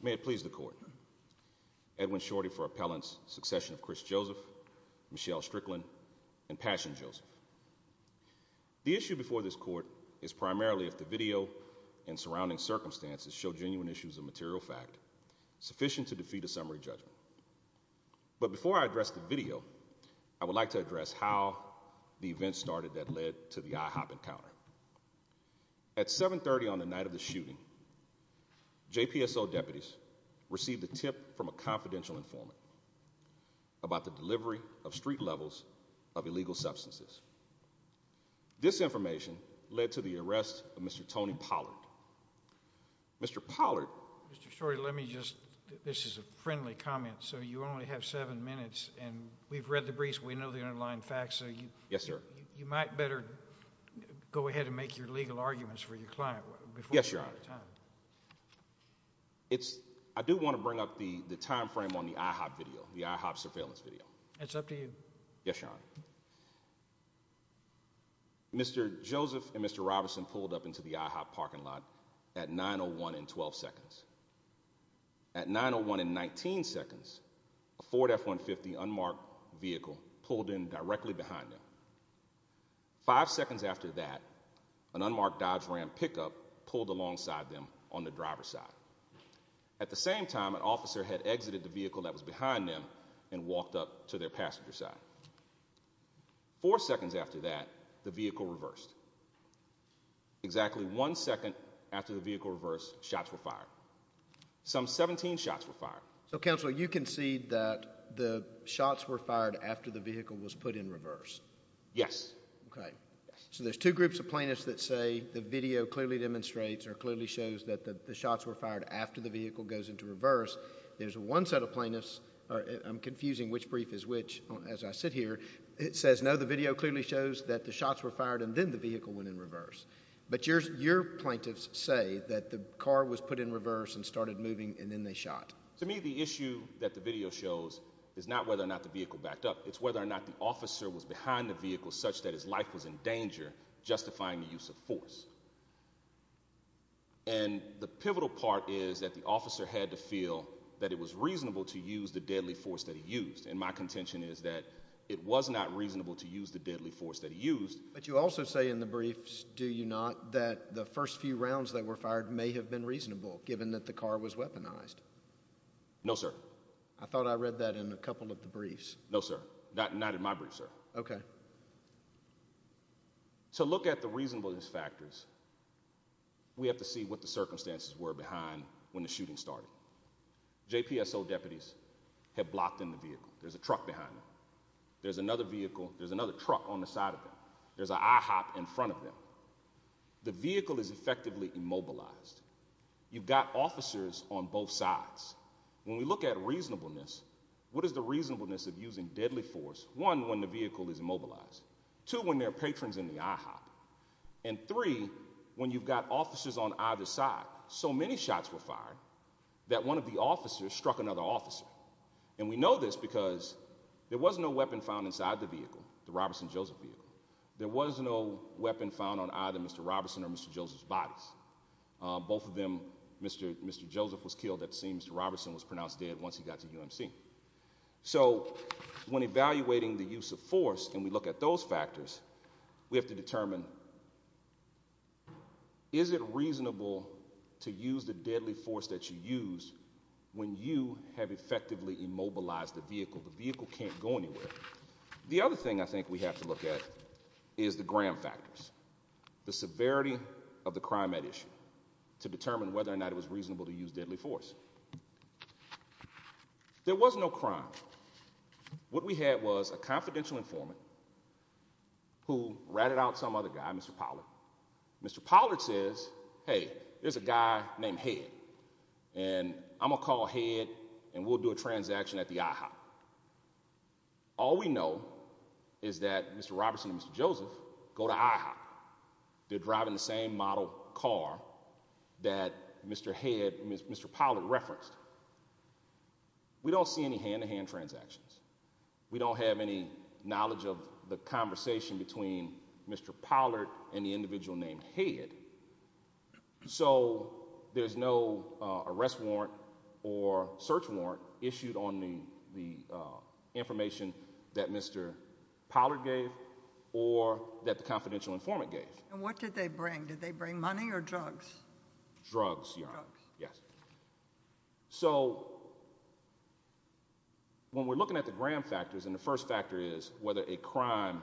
May it please the Court, Edwin Shorty for Appellant's Succession of Chris Joseph, Michelle Strickland, and Passion Joseph. The issue before this Court is primarily if the video and surrounding circumstances show genuine issues of material fact sufficient to defeat a summary judgment. But before I address the video, I would like to address how the event started that led to the IHOP encounter. At 730 on the night of the shooting, JPSO deputies received a tip from a confidential informant about the delivery of street levels of illegal substances. This information led to the arrest of Mr. Tony Pollard. Mr. Pollard... Mr. Shorty, let me just... this is a friendly comment, so you only have seven minutes and we've read the briefs, we know the underlying facts, so you... Yes, sir. You might better go ahead and make your legal arguments for your client before you run out Yes, Your Honor. It's... I do want to bring up the time frame on the IHOP video, the IHOP surveillance video. It's up to you. Yes, Your Honor. Mr. Joseph and Mr. Robinson pulled up into the IHOP parking lot at 9.01 and 12 seconds. At 9.01 and 19 seconds, a Ford F-150 unmarked vehicle pulled in directly behind them. Five seconds after that, an unmarked Dodge Ram pickup pulled alongside them on the driver's side. At the same time, an officer had exited the vehicle that was behind them and walked up to their passenger side. Four seconds after that, the vehicle reversed. Exactly one second after the vehicle reversed, shots were fired. Some 17 shots were fired. So, Counselor, you concede that the shots were fired after the vehicle was put in reverse? Yes. Okay. So, there's two groups of plaintiffs that say the video clearly demonstrates or clearly shows that the shots were fired after the vehicle goes into reverse. There's one set of plaintiffs, I'm confusing which brief is which as I sit here, it says no, the video clearly shows that the shots were fired and then the vehicle went in reverse. But your plaintiffs say that the car was put in reverse and started moving and then they shot. To me, the issue that the video shows is not whether or not the vehicle backed up. It's whether or not the officer was behind the vehicle such that his life was in danger justifying the use of force. And the pivotal part is that the officer had to feel that it was reasonable to use the deadly force that he used. And my contention is that it was not reasonable to use the deadly force that he used. But you also say in the briefs, do you not, that the first few rounds that were fired may have been reasonable given that the car was weaponized? No, sir. I thought I read that in a couple of the briefs. No, sir. Not in my briefs, sir. Okay. So, look at the reasonableness factors. We have to see what the circumstances were behind when the shooting started. JPSO deputies have blocked in the vehicle. There's a truck behind them. There's another vehicle. There's another truck on the side of them. There's an IHOP in front of them. The vehicle is effectively immobilized. You've got officers on both sides. When we look at reasonableness, what is the reasonableness of using deadly force? One, when the vehicle is immobilized. Two, when they're patrons in the IHOP. And three, when you've got officers on either side. So many shots were fired that one of the officers struck another officer. And we know this because there was no weapon found inside the vehicle, the Robertson-Joseph vehicle. There was no weapon found on either Mr. Robertson or Mr. Joseph's bodies. Both of them, Mr. Joseph was killed at the scene. Mr. Robertson was pronounced dead once he got to UMC. So when evaluating the use of force and we look at those factors, we have to determine is it reasonable to use the deadly force that you use when you have effectively immobilized the vehicle? The vehicle can't go anywhere. The other thing I think we have to look at is the gram factors. The severity of the crime at issue to determine whether or not it was reasonable to use deadly force. There was no crime. What we had was a confidential informant who ratted out some other guy, Mr. Pollard. Mr. Pollard says, hey, there's a guy named Head and I'm going to call Head and we'll do a transaction at the IHOP. All we know is that Mr. Robertson and Mr. Joseph go to IHOP. They're driving the same model car that Mr. Head, Mr. Pollard referenced. We don't see any hand-to-hand transactions. We don't have any knowledge of the conversation between Mr. Pollard and the individual named Head. So there's no arrest warrant or search warrant issued on the information that Mr. Pollard gave or that the confidential informant gave. What did they bring? Did they bring money or drugs? Drugs. Drugs. Yes. So when we're looking at the gram factors and the first factor is whether a crime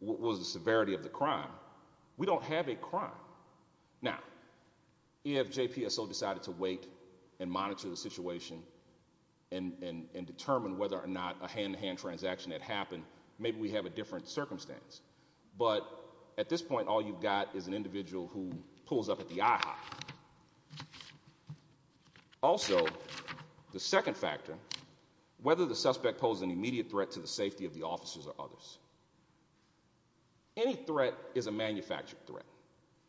was the severity of the crime, we don't have a crime. Now if JPSO decided to wait and monitor the situation and determine whether or not a hand-to-hand transaction had happened, maybe we have a different circumstance. But at this point, all you've got is an individual who pulls up at the IHOP. Also the second factor, whether the suspect posed an immediate threat to the safety of the officers or others. Any threat is a manufactured threat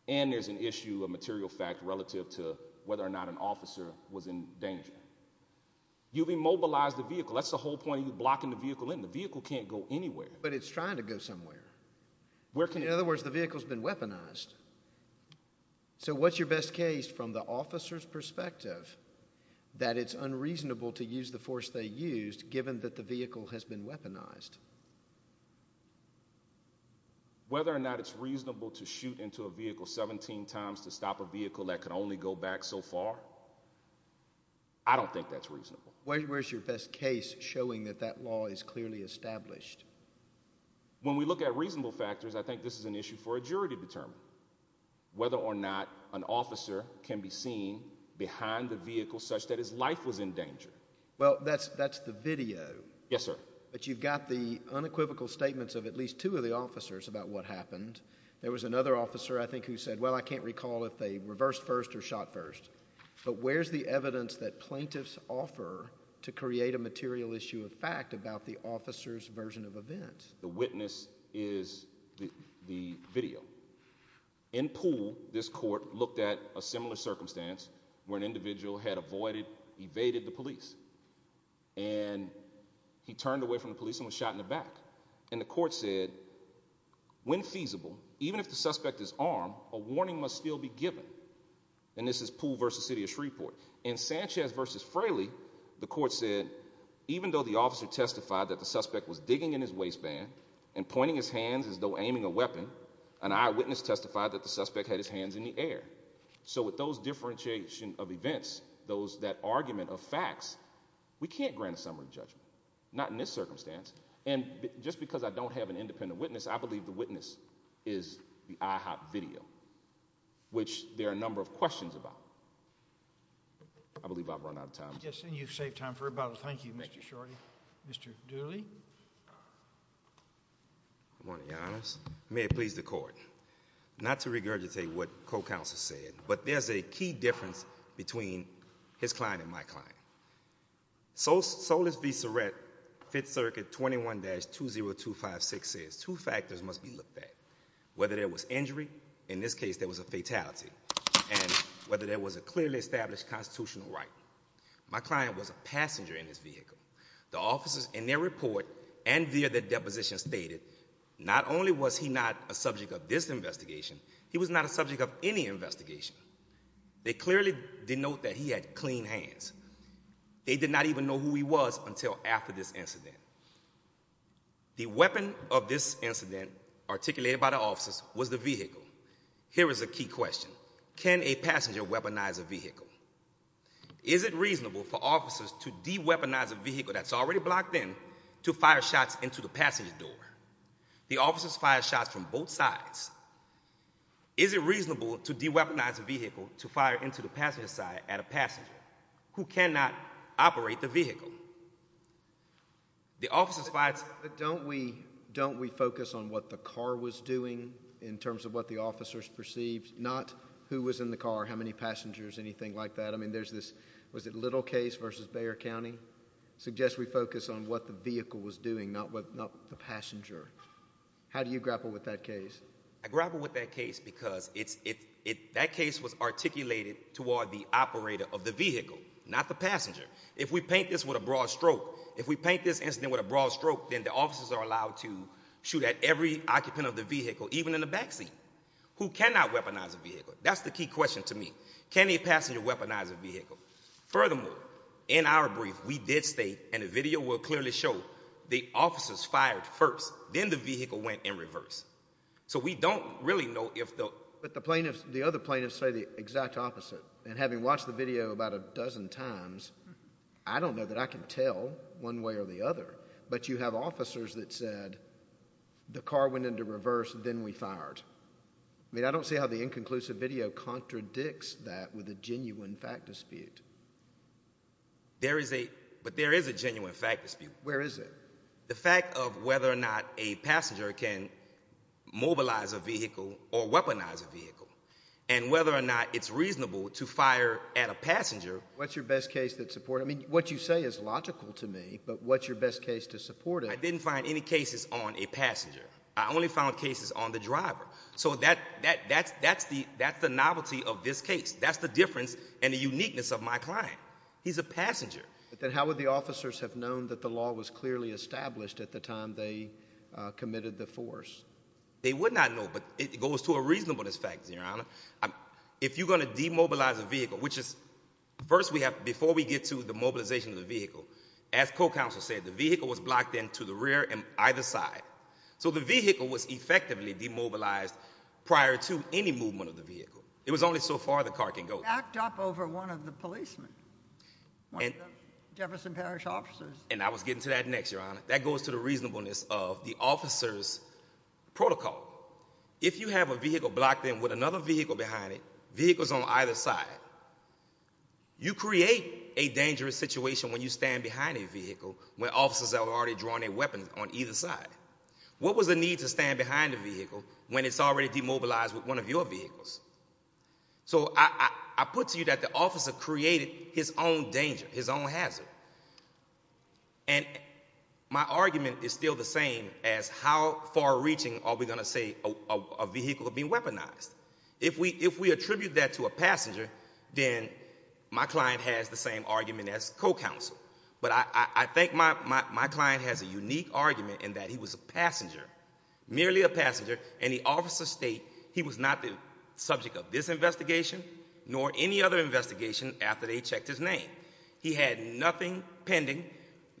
and there's an issue of material fact relative to whether or not an officer was in danger. You've immobilized the vehicle. That's the whole point of blocking the vehicle in. The vehicle can't go anywhere. But it's trying to go somewhere. In other words, the vehicle's been weaponized. So what's your best case from the officer's perspective that it's unreasonable to use the force they used given that the vehicle has been weaponized? Whether or not it's reasonable to shoot into a vehicle 17 times to stop a vehicle that could only go back so far, I don't think that's reasonable. Where's your best case showing that that law is clearly established? When we look at reasonable factors, I think this is an issue for a jury to determine. Whether or not an officer can be seen behind the vehicle such that his life was in danger. Well, that's the video. Yes, sir. But you've got the unequivocal statements of at least two of the officers about what happened. There was another officer, I think, who said, well, I can't recall if they reversed first or shot first. But where's the evidence that plaintiffs offer to create a material issue of fact about the officer's version of events? The witness is the video. In Poole, this court looked at a similar circumstance where an individual had avoided, evaded the police and he turned away from the police and was shot in the back. And the court said, when feasible, even if the suspect is armed, a warning must still be given. And this is Poole v. City of Shreveport. In Sanchez v. Fraley, the court said, even though the officer testified that the suspect was digging in his waistband and pointing his hands as though aiming a weapon, an eyewitness testified that the suspect had his hands in the air. So with those differentiation of events, that argument of facts, we can't grant a summary judgment. Not in this circumstance. And just because I don't have an independent witness, I believe the witness is the IHOP video, which there are a number of questions about. I believe I've run out of time. Yes, and you've saved time for rebuttal. Thank you, Mr. Shorty. Thank you. Mr. Dooley. Good morning, Your Honors. May it please the Court. Not to regurgitate what co-counsel said, but there's a key difference between his client and my client. Solis v. Surrett, Fifth Circuit 21-20256 says, two factors must be looked at, whether there was injury, in this case there was a fatality, and whether there was a clearly established constitutional right. My client was a passenger in this vehicle. The officers in their report and via their deposition stated, not only was he not a subject of this investigation, he was not a subject of any investigation. They clearly denote that he had clean hands. They did not even know who he was until after this incident. The weapon of this incident articulated by the officers was the vehicle. Here is a key question. Can a passenger weaponize a vehicle? Is it reasonable for officers to de-weaponize a vehicle that's already blocked in to fire shots into the passenger door? The officers fired shots from both sides. Is it reasonable to de-weaponize a vehicle to fire into the passenger side at a passenger who cannot operate the vehicle? The officers fired... But don't we focus on what the car was doing in terms of what the officers perceived, not who was in the car, how many passengers, anything like that? I mean, there's this, was it Little case v. Bexar County, suggests we focus on what the vehicle was doing, not the passenger. How do you grapple with that case? I grapple with that case because that case was articulated toward the operator of the vehicle, not the passenger. If we paint this with a broad stroke, if we paint this incident with a broad stroke, then the officers are allowed to shoot at every occupant of the vehicle, even in the backseat. Who cannot weaponize a vehicle? That's the key question to me. Can a passenger weaponize a vehicle? Furthermore, in our brief, we did state, and the video will clearly show, the officers fired first, then the vehicle went in reverse. So we don't really know if the... But the plaintiffs, the other plaintiffs say the exact opposite. And having watched the video about a dozen times, I don't know that I can tell one way or the other, but you have officers that said, the car went into reverse, then we fired. I mean, I don't see how the inconclusive video contradicts that with a genuine fact dispute. There is a, but there is a genuine fact dispute. Where is it? The fact of whether or not a passenger can mobilize a vehicle or weaponize a vehicle, and whether or not it's reasonable to fire at a passenger. What's your best case that support... I mean, what you say is logical to me, but what's your best case to support it? I didn't find any cases on a passenger. I only found cases on the driver. So that's the novelty of this case. That's the difference and the uniqueness of my client. He's a passenger. But then how would the officers have known that the law was clearly established at the time they committed the force? They would not know, but it goes to a reasonableness factor, Your Honor. If you're going to demobilize a vehicle, which is... First we have, before we get to the mobilization of the vehicle, as co-counsel said, the vehicle was blocked in to the rear and either side. So the vehicle was effectively demobilized prior to any movement of the vehicle. It was only so far the car can go. Backed up over one of the policemen, one of the Jefferson Parish officers. And I was getting to that next, Your Honor. That goes to the reasonableness of the officer's protocol. If you have a vehicle blocked in with another vehicle behind it, vehicles on either side, you create a dangerous situation when you stand behind a vehicle when officers are already drawing their weapons on either side. What was the need to stand behind a vehicle when it's already demobilized with one of your vehicles? So I put to you that the officer created his own danger, his own hazard. And my argument is still the same as how far-reaching are we going to say a vehicle can be weaponized. If we attribute that to a passenger, then my client has the same argument as co-counsel. But I think my client has a unique argument in that he was a passenger, merely a passenger, and the officer state he was not the subject of this investigation nor any other investigation after they checked his name. He had nothing pending,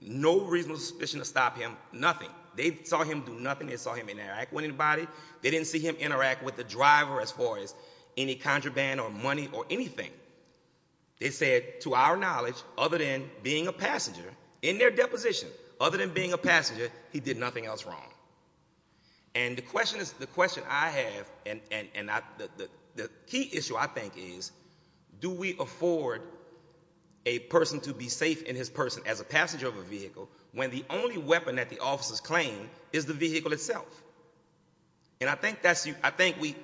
no reasonable suspicion to stop him, nothing. They saw him do nothing. They saw him interact with anybody. They didn't see him interact with the driver as far as any contraband or money or anything. They said, to our knowledge, other than being a passenger, in their deposition, other than being a passenger, he did nothing else wrong. And the question I have, and the key issue I think is, do we afford a person to be safe in his person as a passenger of a vehicle when the only weapon that the officers claim is the vehicle itself? And I think we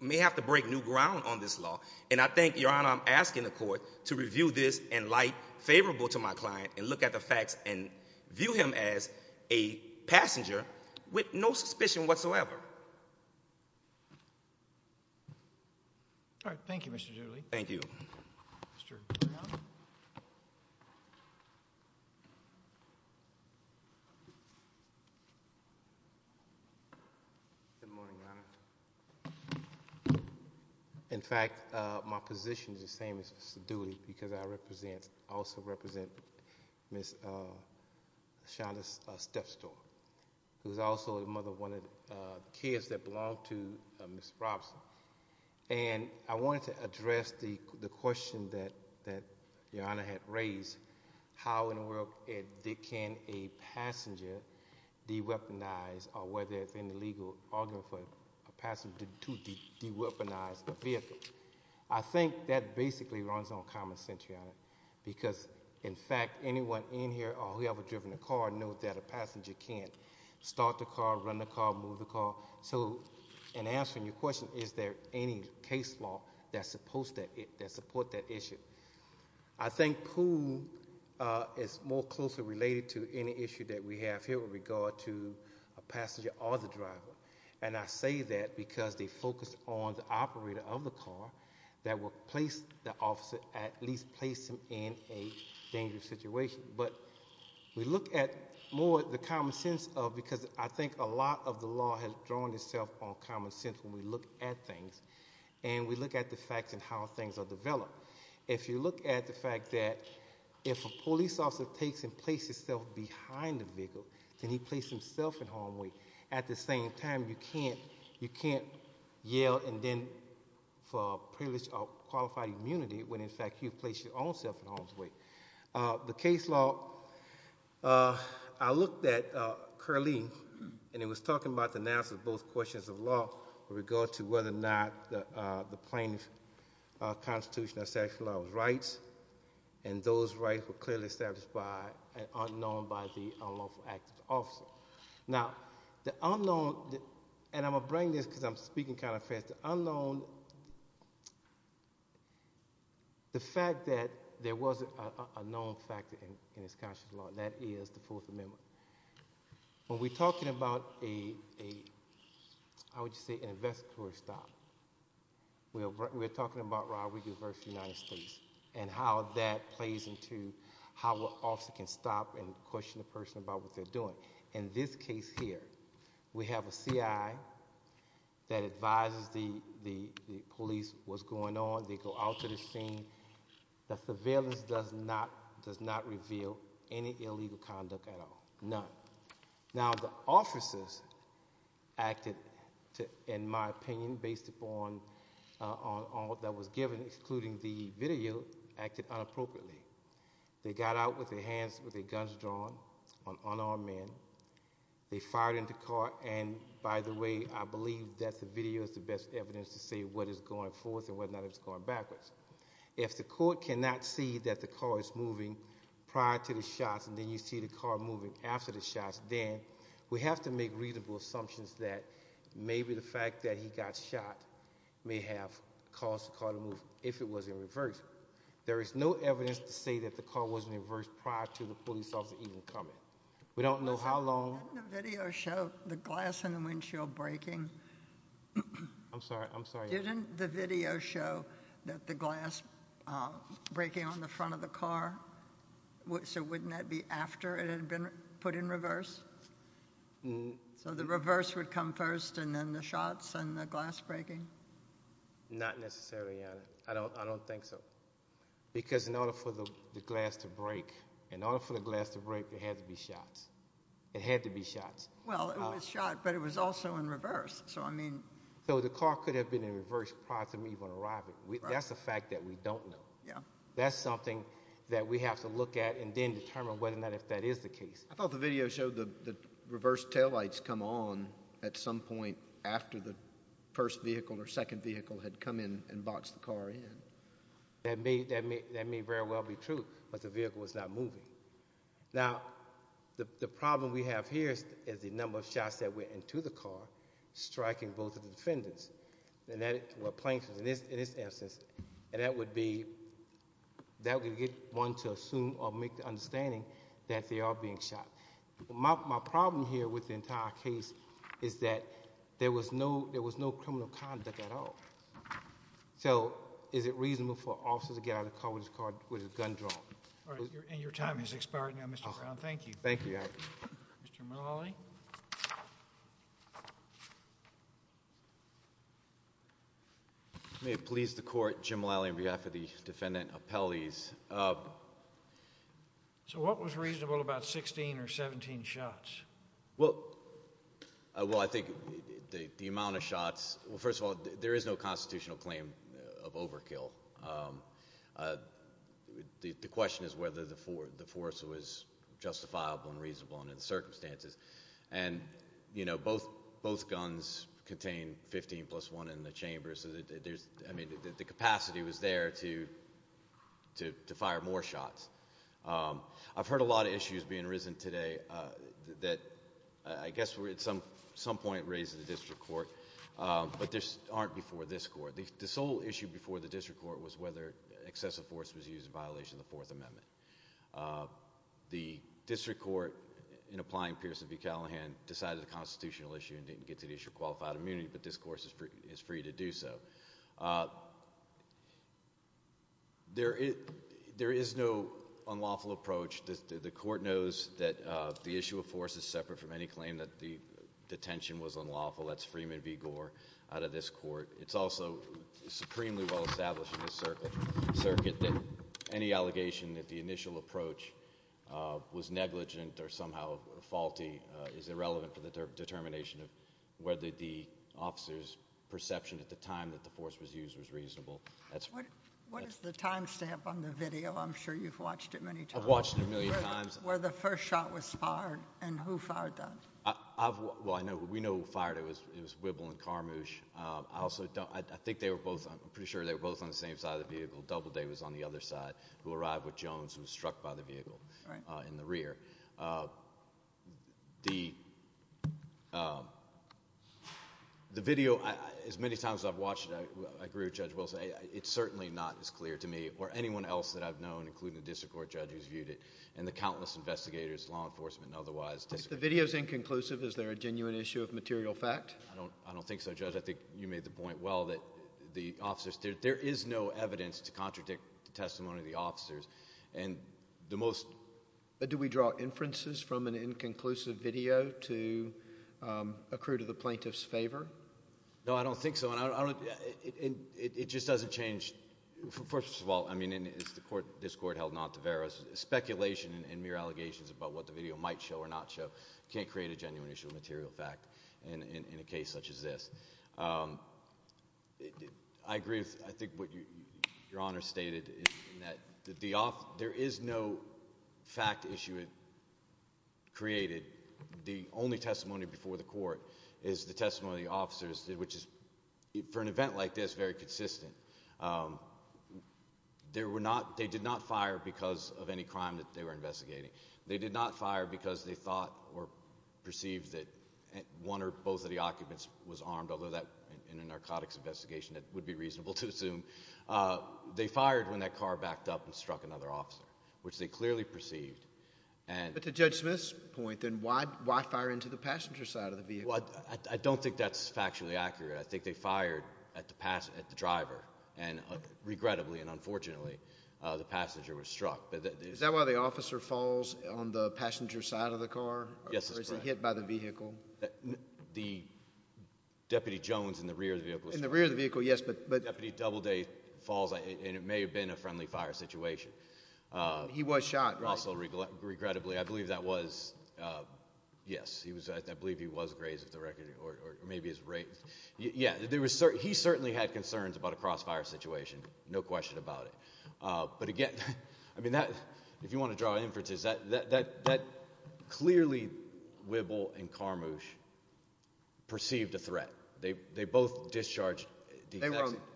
may have to break new ground on this law. And I think, Your Honor, I'm asking the court to review this in light favorable to my client and look at the facts and view him as a passenger with no suspicion whatsoever. All right, thank you, Mr. Dooley. Thank you. Good morning, Your Honor. In fact, my position is the same as Mr. Dooley, because I also represent Ms. Shonda Stepstow, who is also a mother of one of the kids that belong to Ms. Robson. And I wanted to address the question that Your Honor had raised, how in the world can a passenger de-weaponize, or whether it's an illegal argument for a passenger to de-weaponize a vehicle? I think that basically runs on common sense, Your Honor, because in fact, anyone in here or who ever driven a car knows that a passenger can't start the car, run the car, move the car. So in answering your question, is there any case law that support that issue? I think POOH is more closely related to any issue that we have here with regard to a passenger or the driver. And I say that because they focus on the operator of the car that will place the officer, at least place him in a dangerous situation. But we look at more the common sense of, because I think a lot of the law has drawn itself on common sense when we look at things, and we look at the facts and how things are developed. If you look at the fact that if a police officer takes and places himself behind the vehicle, can he place himself in harm's way? At the same time, you can't yell and then for privilege or qualified immunity when in fact you've placed your own self in harm's way. The case law, I looked at Curleen, and it was talking about the analysis of both questions of law with regard to whether or not the plaintiff's constitution or statute of law was right, and those rights were clearly established by and unknown by the unlawful act of the officer. Now, the unknown, and I'm going to bring this because I'm speaking kind of fast, the unknown, the fact that there was a known factor in his constitutional law, that is the Fourth Amendment. When we're talking about a, how would you say, an investigatory stop, we're talking about robbery versus United States, and how that plays into how an officer can stop and question a person about what they're doing. In this case here, we have a CI that advises the police what's going on, they go out to the scene, the surveillance does not reveal any illegal conduct at all, none. Now the officers acted, in my opinion, based upon all that was given, including the video, acted inappropriately. They got out with their hands, with their guns drawn, on unarmed men, they fired into court, and by the way, I believe that the video is the best evidence to say what is going forth and whether or not it's going backwards. If the court cannot see that the car is moving prior to the shots, and then you see the car moving after the shots, then we have to make reasonable assumptions that maybe the fact that he got shot may have caused the car to move if it was in reverse. There is no evidence to say that the car wasn't in reverse prior to the police officer even coming. We don't know how long- Didn't the video show the glass in the windshield breaking? I'm sorry, I'm sorry. Didn't the video show that the glass breaking on the front of the car, so wouldn't that be after it had been put in reverse? So the reverse would come first and then the shots and the glass breaking? Not necessarily, Your Honor. I don't think so. Because in order for the glass to break, in order for the glass to break, there had to be shots. It had to be shots. Well, it was shot, but it was also in reverse, so I mean- So the car could have been in reverse prior to me even arriving. That's a fact that we don't know. That's something that we have to look at and then determine whether or not if that is the case. I thought the video showed the reverse taillights come on at some point after the first vehicle or second vehicle had come in and boxed the car in. That may very well be true, but the vehicle was not moving. Now, the problem we have here is the number of shots that went into the car, striking both of the defendants, or plaintiffs in this instance, and that would be, that would get one to assume or make the understanding that they are being shot. My problem here with the entire case is that there was no criminal conduct at all. So is it reasonable for officers to get out of the car with a gun drawn? Your time has expired now, Mr. Brown. Thank you. Thank you, Your Honor. Mr. Mulholland? May it please the Court, Jim Mulholland on behalf of the defendant, appellees. So what was reasonable about 16 or 17 shots? Well, I think the amount of shots, well, first of all, there is no constitutional claim of overkill. The question is whether the force was justifiable and reasonable under the circumstances. And, you know, both guns contain 15 plus 1 in the chamber, so there is, I mean, the capacity was there to fire more shots. I've heard a lot of issues being risen today that I guess were at some point raised in the District Court, but aren't before this Court. The sole issue before the District Court was whether excessive force was used in violation of the Fourth Amendment. The District Court, in applying Pierson v. Callahan, decided a constitutional issue and didn't get to the issue of qualified immunity, but this Court is free to do so. There is no unlawful approach. The Court knows that the issue of force is separate from any claim that the detention was unlawful. That's Freeman v. Gore out of this Court. It's also supremely well established in this circuit that any allegation that the initial approach was negligent or somehow faulty is irrelevant for the determination of whether the officer's perception at the time that the force was used was reasonable. What is the time stamp on the video? I'm sure you've watched it many times. I've watched it a million times. Where the first shot was fired, and who fired that? We know who fired it. It was Wibble and Carmouche. I think they were both, I'm pretty sure they were both on the same side of the vehicle. Doubleday was on the other side, who arrived with Jones, who was struck by the vehicle in the rear. The video, as many times as I've watched it, I agree with Judge Wilson, it's certainly not as clear to me or anyone else that I've known, including the District Court judge who's viewed it, and the countless investigators, law enforcement, and otherwise. The video's inconclusive. Is there a genuine issue of material fact? I don't think so, Judge. I think you made the point well that the officers, there is no evidence to contradict the testimony of the officers. Do we draw inferences from an inconclusive video to accrue to the plaintiff's favor? No, I don't think so. It just doesn't change. First of all, I mean, and it's the court, this court held not to bear us, speculation and mere allegations about what the video might show or not show can't create a genuine issue of material fact in a case such as this. I agree with, I think, what Your Honor stated in that there is no fact issue created. The only testimony before the court is the testimony of the officers, which is, for an event like this, very consistent. They did not fire because of any crime that they were investigating. They did not fire because they thought or perceived that one or both of the occupants was armed, although that, in a narcotics investigation, that would be reasonable to assume. They fired when that car backed up and struck another officer, which they clearly perceived. But to Judge Smith's point, then, why fire into the passenger side of the vehicle? I don't think that's factually accurate. I think they fired at the driver, and regrettably and unfortunately, the passenger was struck. Is that why the officer falls on the passenger side of the car? Yes, that's correct. Or is it hit by the vehicle? The Deputy Jones in the rear of the vehicle was shot. In the rear of the vehicle, yes, but... The Deputy Doubleday falls, and it may have been a friendly fire situation. He was shot, right? Also, regrettably, I believe that was, yes, I believe he was grazed with the record, or maybe he was raped. Yeah, he certainly had concerns about a crossfire situation, no question about it. But again, I mean, if you want to draw inferences, that clearly, Wibble and Carmouche perceived a threat. They both discharged...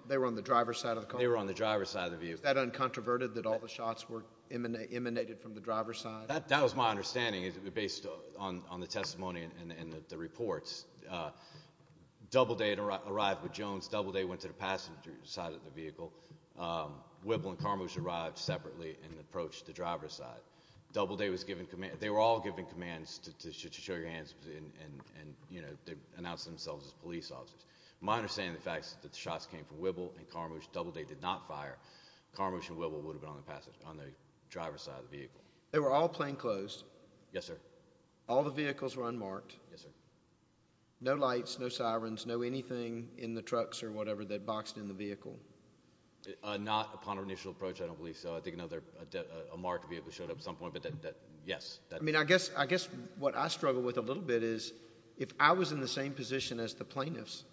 They were on the driver's side of the car? They were on the driver's side of the vehicle. That uncontroverted, that all the shots were emanated from the driver's side? That was my understanding, based on the testimony and the reports. Doubleday had arrived with Jones. Doubleday went to the passenger side of the vehicle. Wibble and Carmouche arrived separately and approached the driver's side. Doubleday was given command... They were all given commands to show your hands and announce themselves as police officers. My understanding of the facts is that the shots came from Wibble and Carmouche. Doubleday did not fire. Carmouche and Wibble would have been on the passenger, on the driver's side of the vehicle. They were all plainclothes? Yes, sir. All the vehicles were unmarked? Yes, sir. No lights, no sirens, no anything in the trucks or whatever that boxed in the vehicle? Not upon initial approach, I don't believe so. I think another, a marked vehicle showed up at some point, but yes. I mean, I guess what I struggle with a little bit is if I was in the same position as the plaintiffs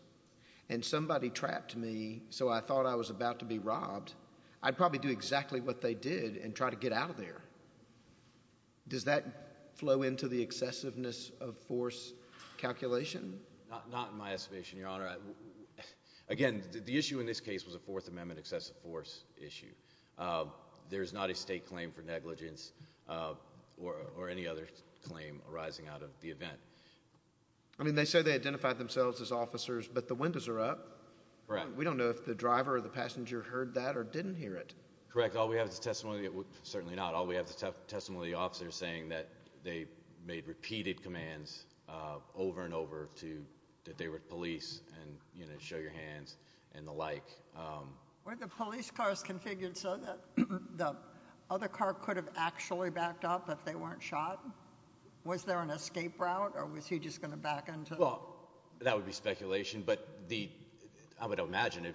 and somebody trapped me so I thought I was about to be robbed, I'd probably do exactly what they did and try to get out of there. Does that flow into the excessiveness of force calculation? Not in my estimation, Your Honor. Again, the issue in this case was a Fourth Amendment excessive force issue. There is not a state claim for negligence or any other claim arising out of the event. I mean, they say they identified themselves as officers, but the windows are up. Correct. We don't know if the driver or the passenger heard that or didn't hear it. Correct. All we have is the testimony, certainly not, all we have is the testimony of the officers saying that they made repeated commands over and over that they were police and, you know, show your hands and the like. Were the police cars configured so that the other car could have actually backed up if they weren't shot? Was there an escape route, or was he just going to back into it? Well, that would be speculation, but I would imagine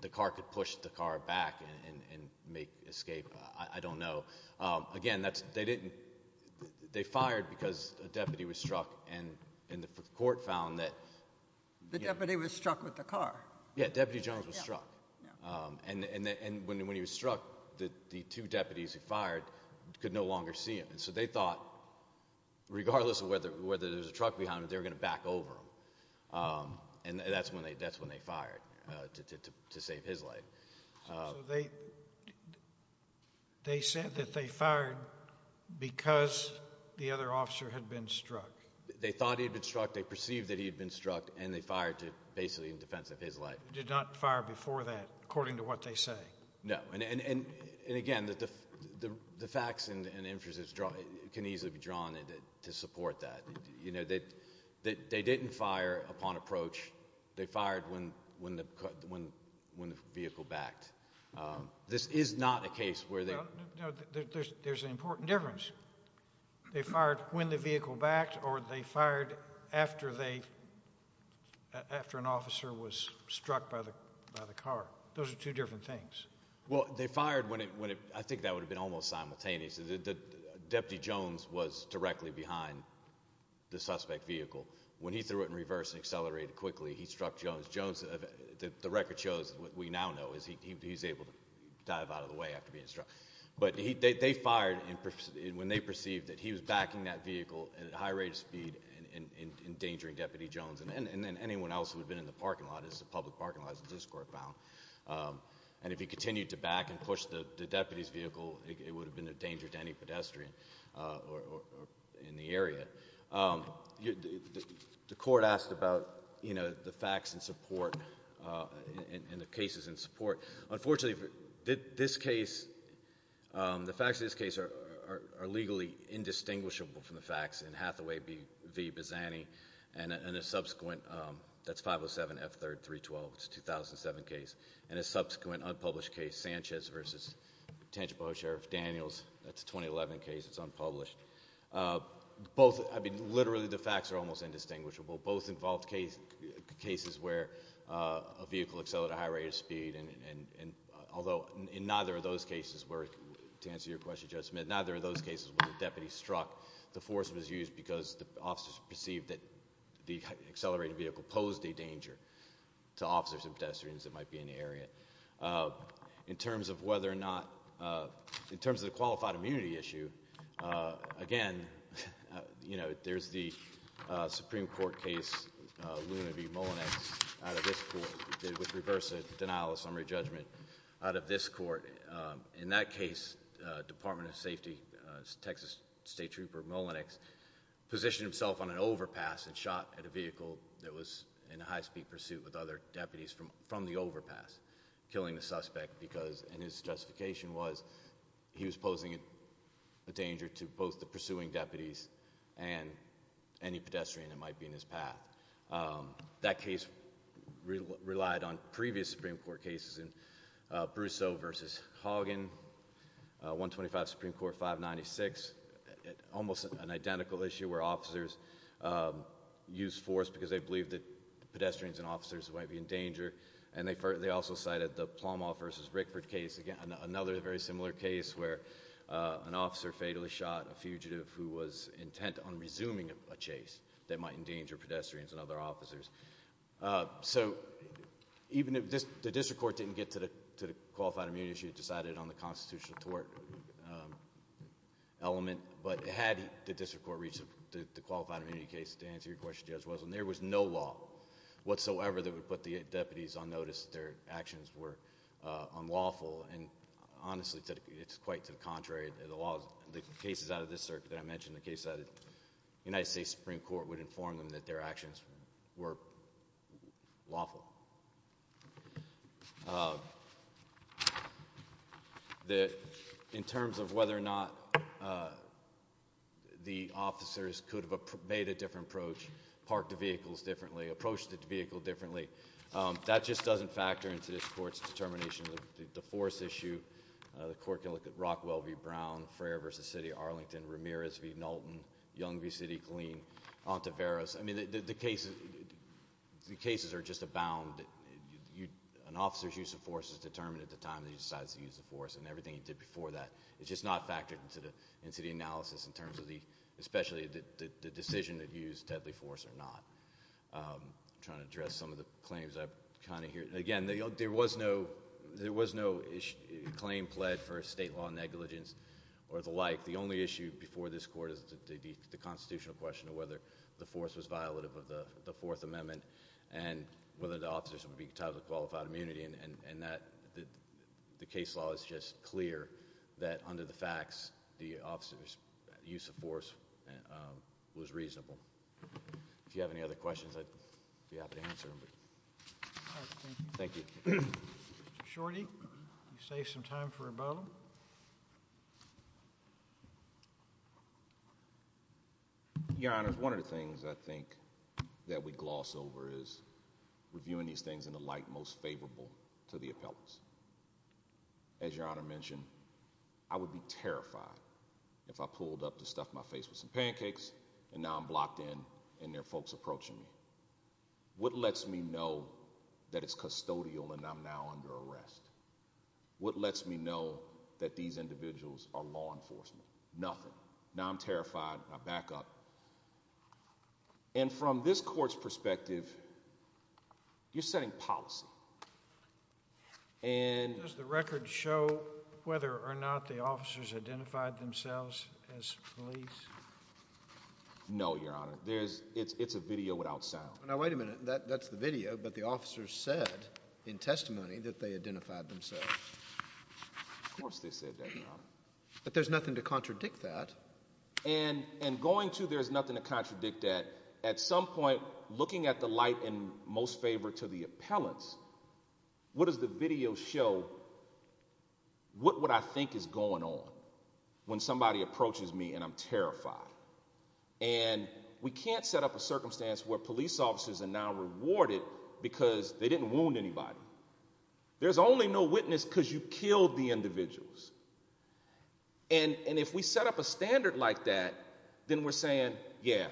the car could push the car back and make escape. I don't know. Again, they fired because a deputy was struck and the court found that... The deputy was struck with the car. Yeah, Deputy Jones was struck. And when he was struck, the two deputies who fired could no longer see him. And so they thought, regardless of whether there was a truck behind him, they were going to back over him. And that's when they fired to save his life. So they said that they fired because the other officer had been struck? They thought he had been struck, they perceived that he had been struck, and they fired to basically in defense of his life. They did not fire before that, according to what they say? No. And again, the facts and inferences can easily be drawn to support that. They didn't fire upon approach. They fired when the vehicle backed. This is not a case where they... There's an important difference. They fired when the vehicle backed or they fired after an officer was struck by the car. Those are two different things. Well, they fired when... I think that would have been almost simultaneous. Deputy Jones was directly behind the suspect vehicle. When he threw it in reverse and accelerated quickly, he struck Jones. The record shows what we now know is he's able to dive out of the way after being struck. But they fired when they perceived that he was backing that vehicle at a high rate of speed and endangering Deputy Jones and then anyone else who had been in the parking lot, as the public parking lot as this court found. And if he continued to back and push the deputy's vehicle, it would have been a danger to any pedestrian in the area. The court asked about the facts in support and the cases in support. Unfortunately, the facts in this case are legally indistinguishable from the facts in Hathaway v. Bizzani and a subsequent... that's 507 F.3.312. It's a 2007 case. And a subsequent unpublished case, Sanchez v. Tangipahoa Sheriff Daniels. That's a 2011 case. It's unpublished. Both... I mean, literally, the facts are almost indistinguishable. Both involved cases where a vehicle accelerated at a high rate of speed, although in neither of those cases where, to answer your question, Judge Smith, neither of those cases where the deputy struck the force was used because the officers perceived that the accelerated vehicle posed a danger to officers and pedestrians that might be in the area. In terms of whether or not... in terms of the qualified immunity issue, again, you know, there's the Supreme Court case, Luna v. Mullenix, out of this court, which reversed the denial of summary judgment out of this court. In that case, Department of Safety Texas State Trooper Mullenix positioned himself on an overpass and shot at a vehicle that was in a high-speed pursuit with other deputies from the overpass, killing the suspect because... and his justification was he was posing a danger to both the pursuing deputies and any pedestrian that might be in his path. That case relied on previous Supreme Court cases in Brousseau v. Haugen, 125 Supreme Court 596, almost an identical issue where officers used force because they believed that pedestrians and officers might be in danger. And they also cited the Plumall v. Rickford case, again, another very similar case where an officer fatally shot a fugitive who was intent on resuming a chase that might endanger pedestrians and other officers. So even if the district court didn't get to the qualified immunity issue, it decided on the constitutional tort element. But had the district court reached the qualified immunity case to answer your question, Judge, there was no law whatsoever that would put the deputies on notice that their actions were unlawful. And honestly, it's quite to the contrary. The cases out of this circuit that I mentioned, the cases out of the United States Supreme Court, would inform them that their actions were lawful. In terms of whether or not the officers could have made a different approach, parked the vehicles differently, approached the vehicle differently, that just doesn't factor into this court's determination of the force issue. The court can look at Rockwell v. Brown, Frayer v. City, Arlington, Ramirez v. Knowlton, Young v. City, Killeen, Ontiveros. I mean, the cases are just abound. An officer's use of force is determined at the time that he decides to use the force, and everything he did before that. It's just not factored into the analysis, especially the decision that he used deadly force or not. I'm trying to address some of the claims I kind of hear. Again, there was no claim pled for state law negligence or the like. The only issue before this court is the constitutional question of whether the force was violative of the Fourth Amendment and whether the officers would be entitled to qualified immunity. And the case law is just clear that under the facts, the officer's use of force was reasonable. If you have any other questions, I'd be happy to answer them. Thank you. Mr. Shorty, you save some time for rebuttal. Your Honor, one of the things I think that we gloss over is reviewing these things in the light most favorable to the appellants. As Your Honor mentioned, I would be terrified if I pulled up to stuff my face with some pancakes and now I'm blocked in and there are folks approaching me. What lets me know that it's custodial and I'm now under arrest? What lets me know that these individuals are law enforcement? Nothing. Now I'm terrified. I back up. And from this court's perspective, you're setting policy. Does the record show whether or not the officers identified themselves as police? No, Your Honor. It's a video without sound. Now wait a minute. That's the video. But the officers said in testimony that they identified themselves. Of course they said that, Your Honor. But there's nothing to contradict that. And going to there's nothing to contradict that. At some point, looking at the light in most favor to the appellants, what does the video show? What would I think is going on when somebody approaches me and I'm terrified? And we can't set up a circumstance where police officers are now rewarded because they didn't wound anybody. There's only no witness because you killed the individuals. And if we set up a standard like that, then we're saying, yeah,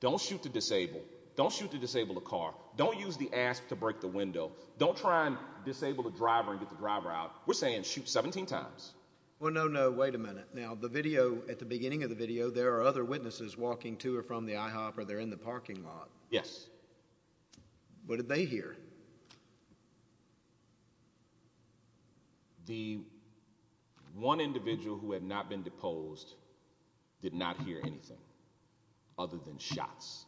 don't shoot to disable. Don't shoot to disable a car. Don't use the asp to break the window. Don't try and disable a driver and get the driver out. We're saying shoot 17 times. Well, no, no. Wait a minute. Now the video at the beginning of the video, there are other witnesses walking to or from the IHOP or they're in the parking lot. Yes. What did they hear? The one individual who had not been deposed did not hear anything other than shots.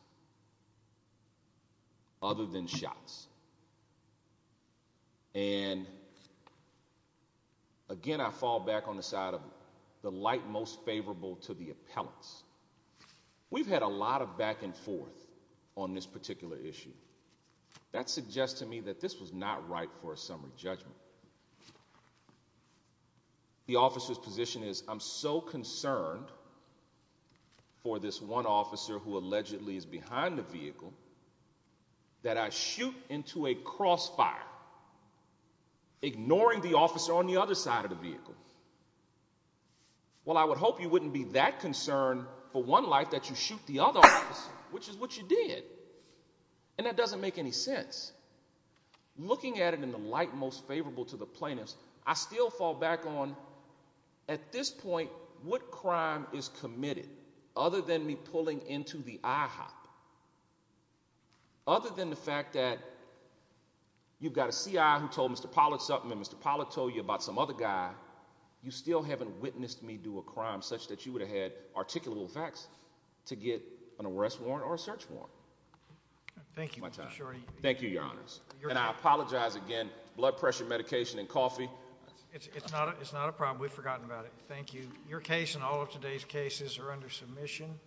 Other than shots. And. Again, I fall back on the side of the light most favorable to the appellants. We've had a lot of back and forth on this particular issue. That suggests to me that this was not right for a summary judgment. The officer's position is I'm so concerned. For this one officer who allegedly is behind the vehicle. That I shoot into a crossfire. Ignoring the officer on the other side of the vehicle. Well, I would hope you wouldn't be that concerned for one life that you shoot the other. Which is what you did. And that doesn't make any sense. Looking at it in the light most favorable to the plaintiffs. I still fall back on. At this point, what crime is committed other than me pulling into the IHOP? Other than the fact that. You've got a CI who told Mr. Pollard something. Mr. Pollard told you about some other guy. You still haven't witnessed me do a crime such that you would have had articulable facts. To get an arrest warrant or a search warrant. Thank you. Thank you, Your Honors. And I apologize again. Blood pressure medication and coffee. It's not a problem. We've forgotten about it. Thank you. Your case and all of today's cases are under submission.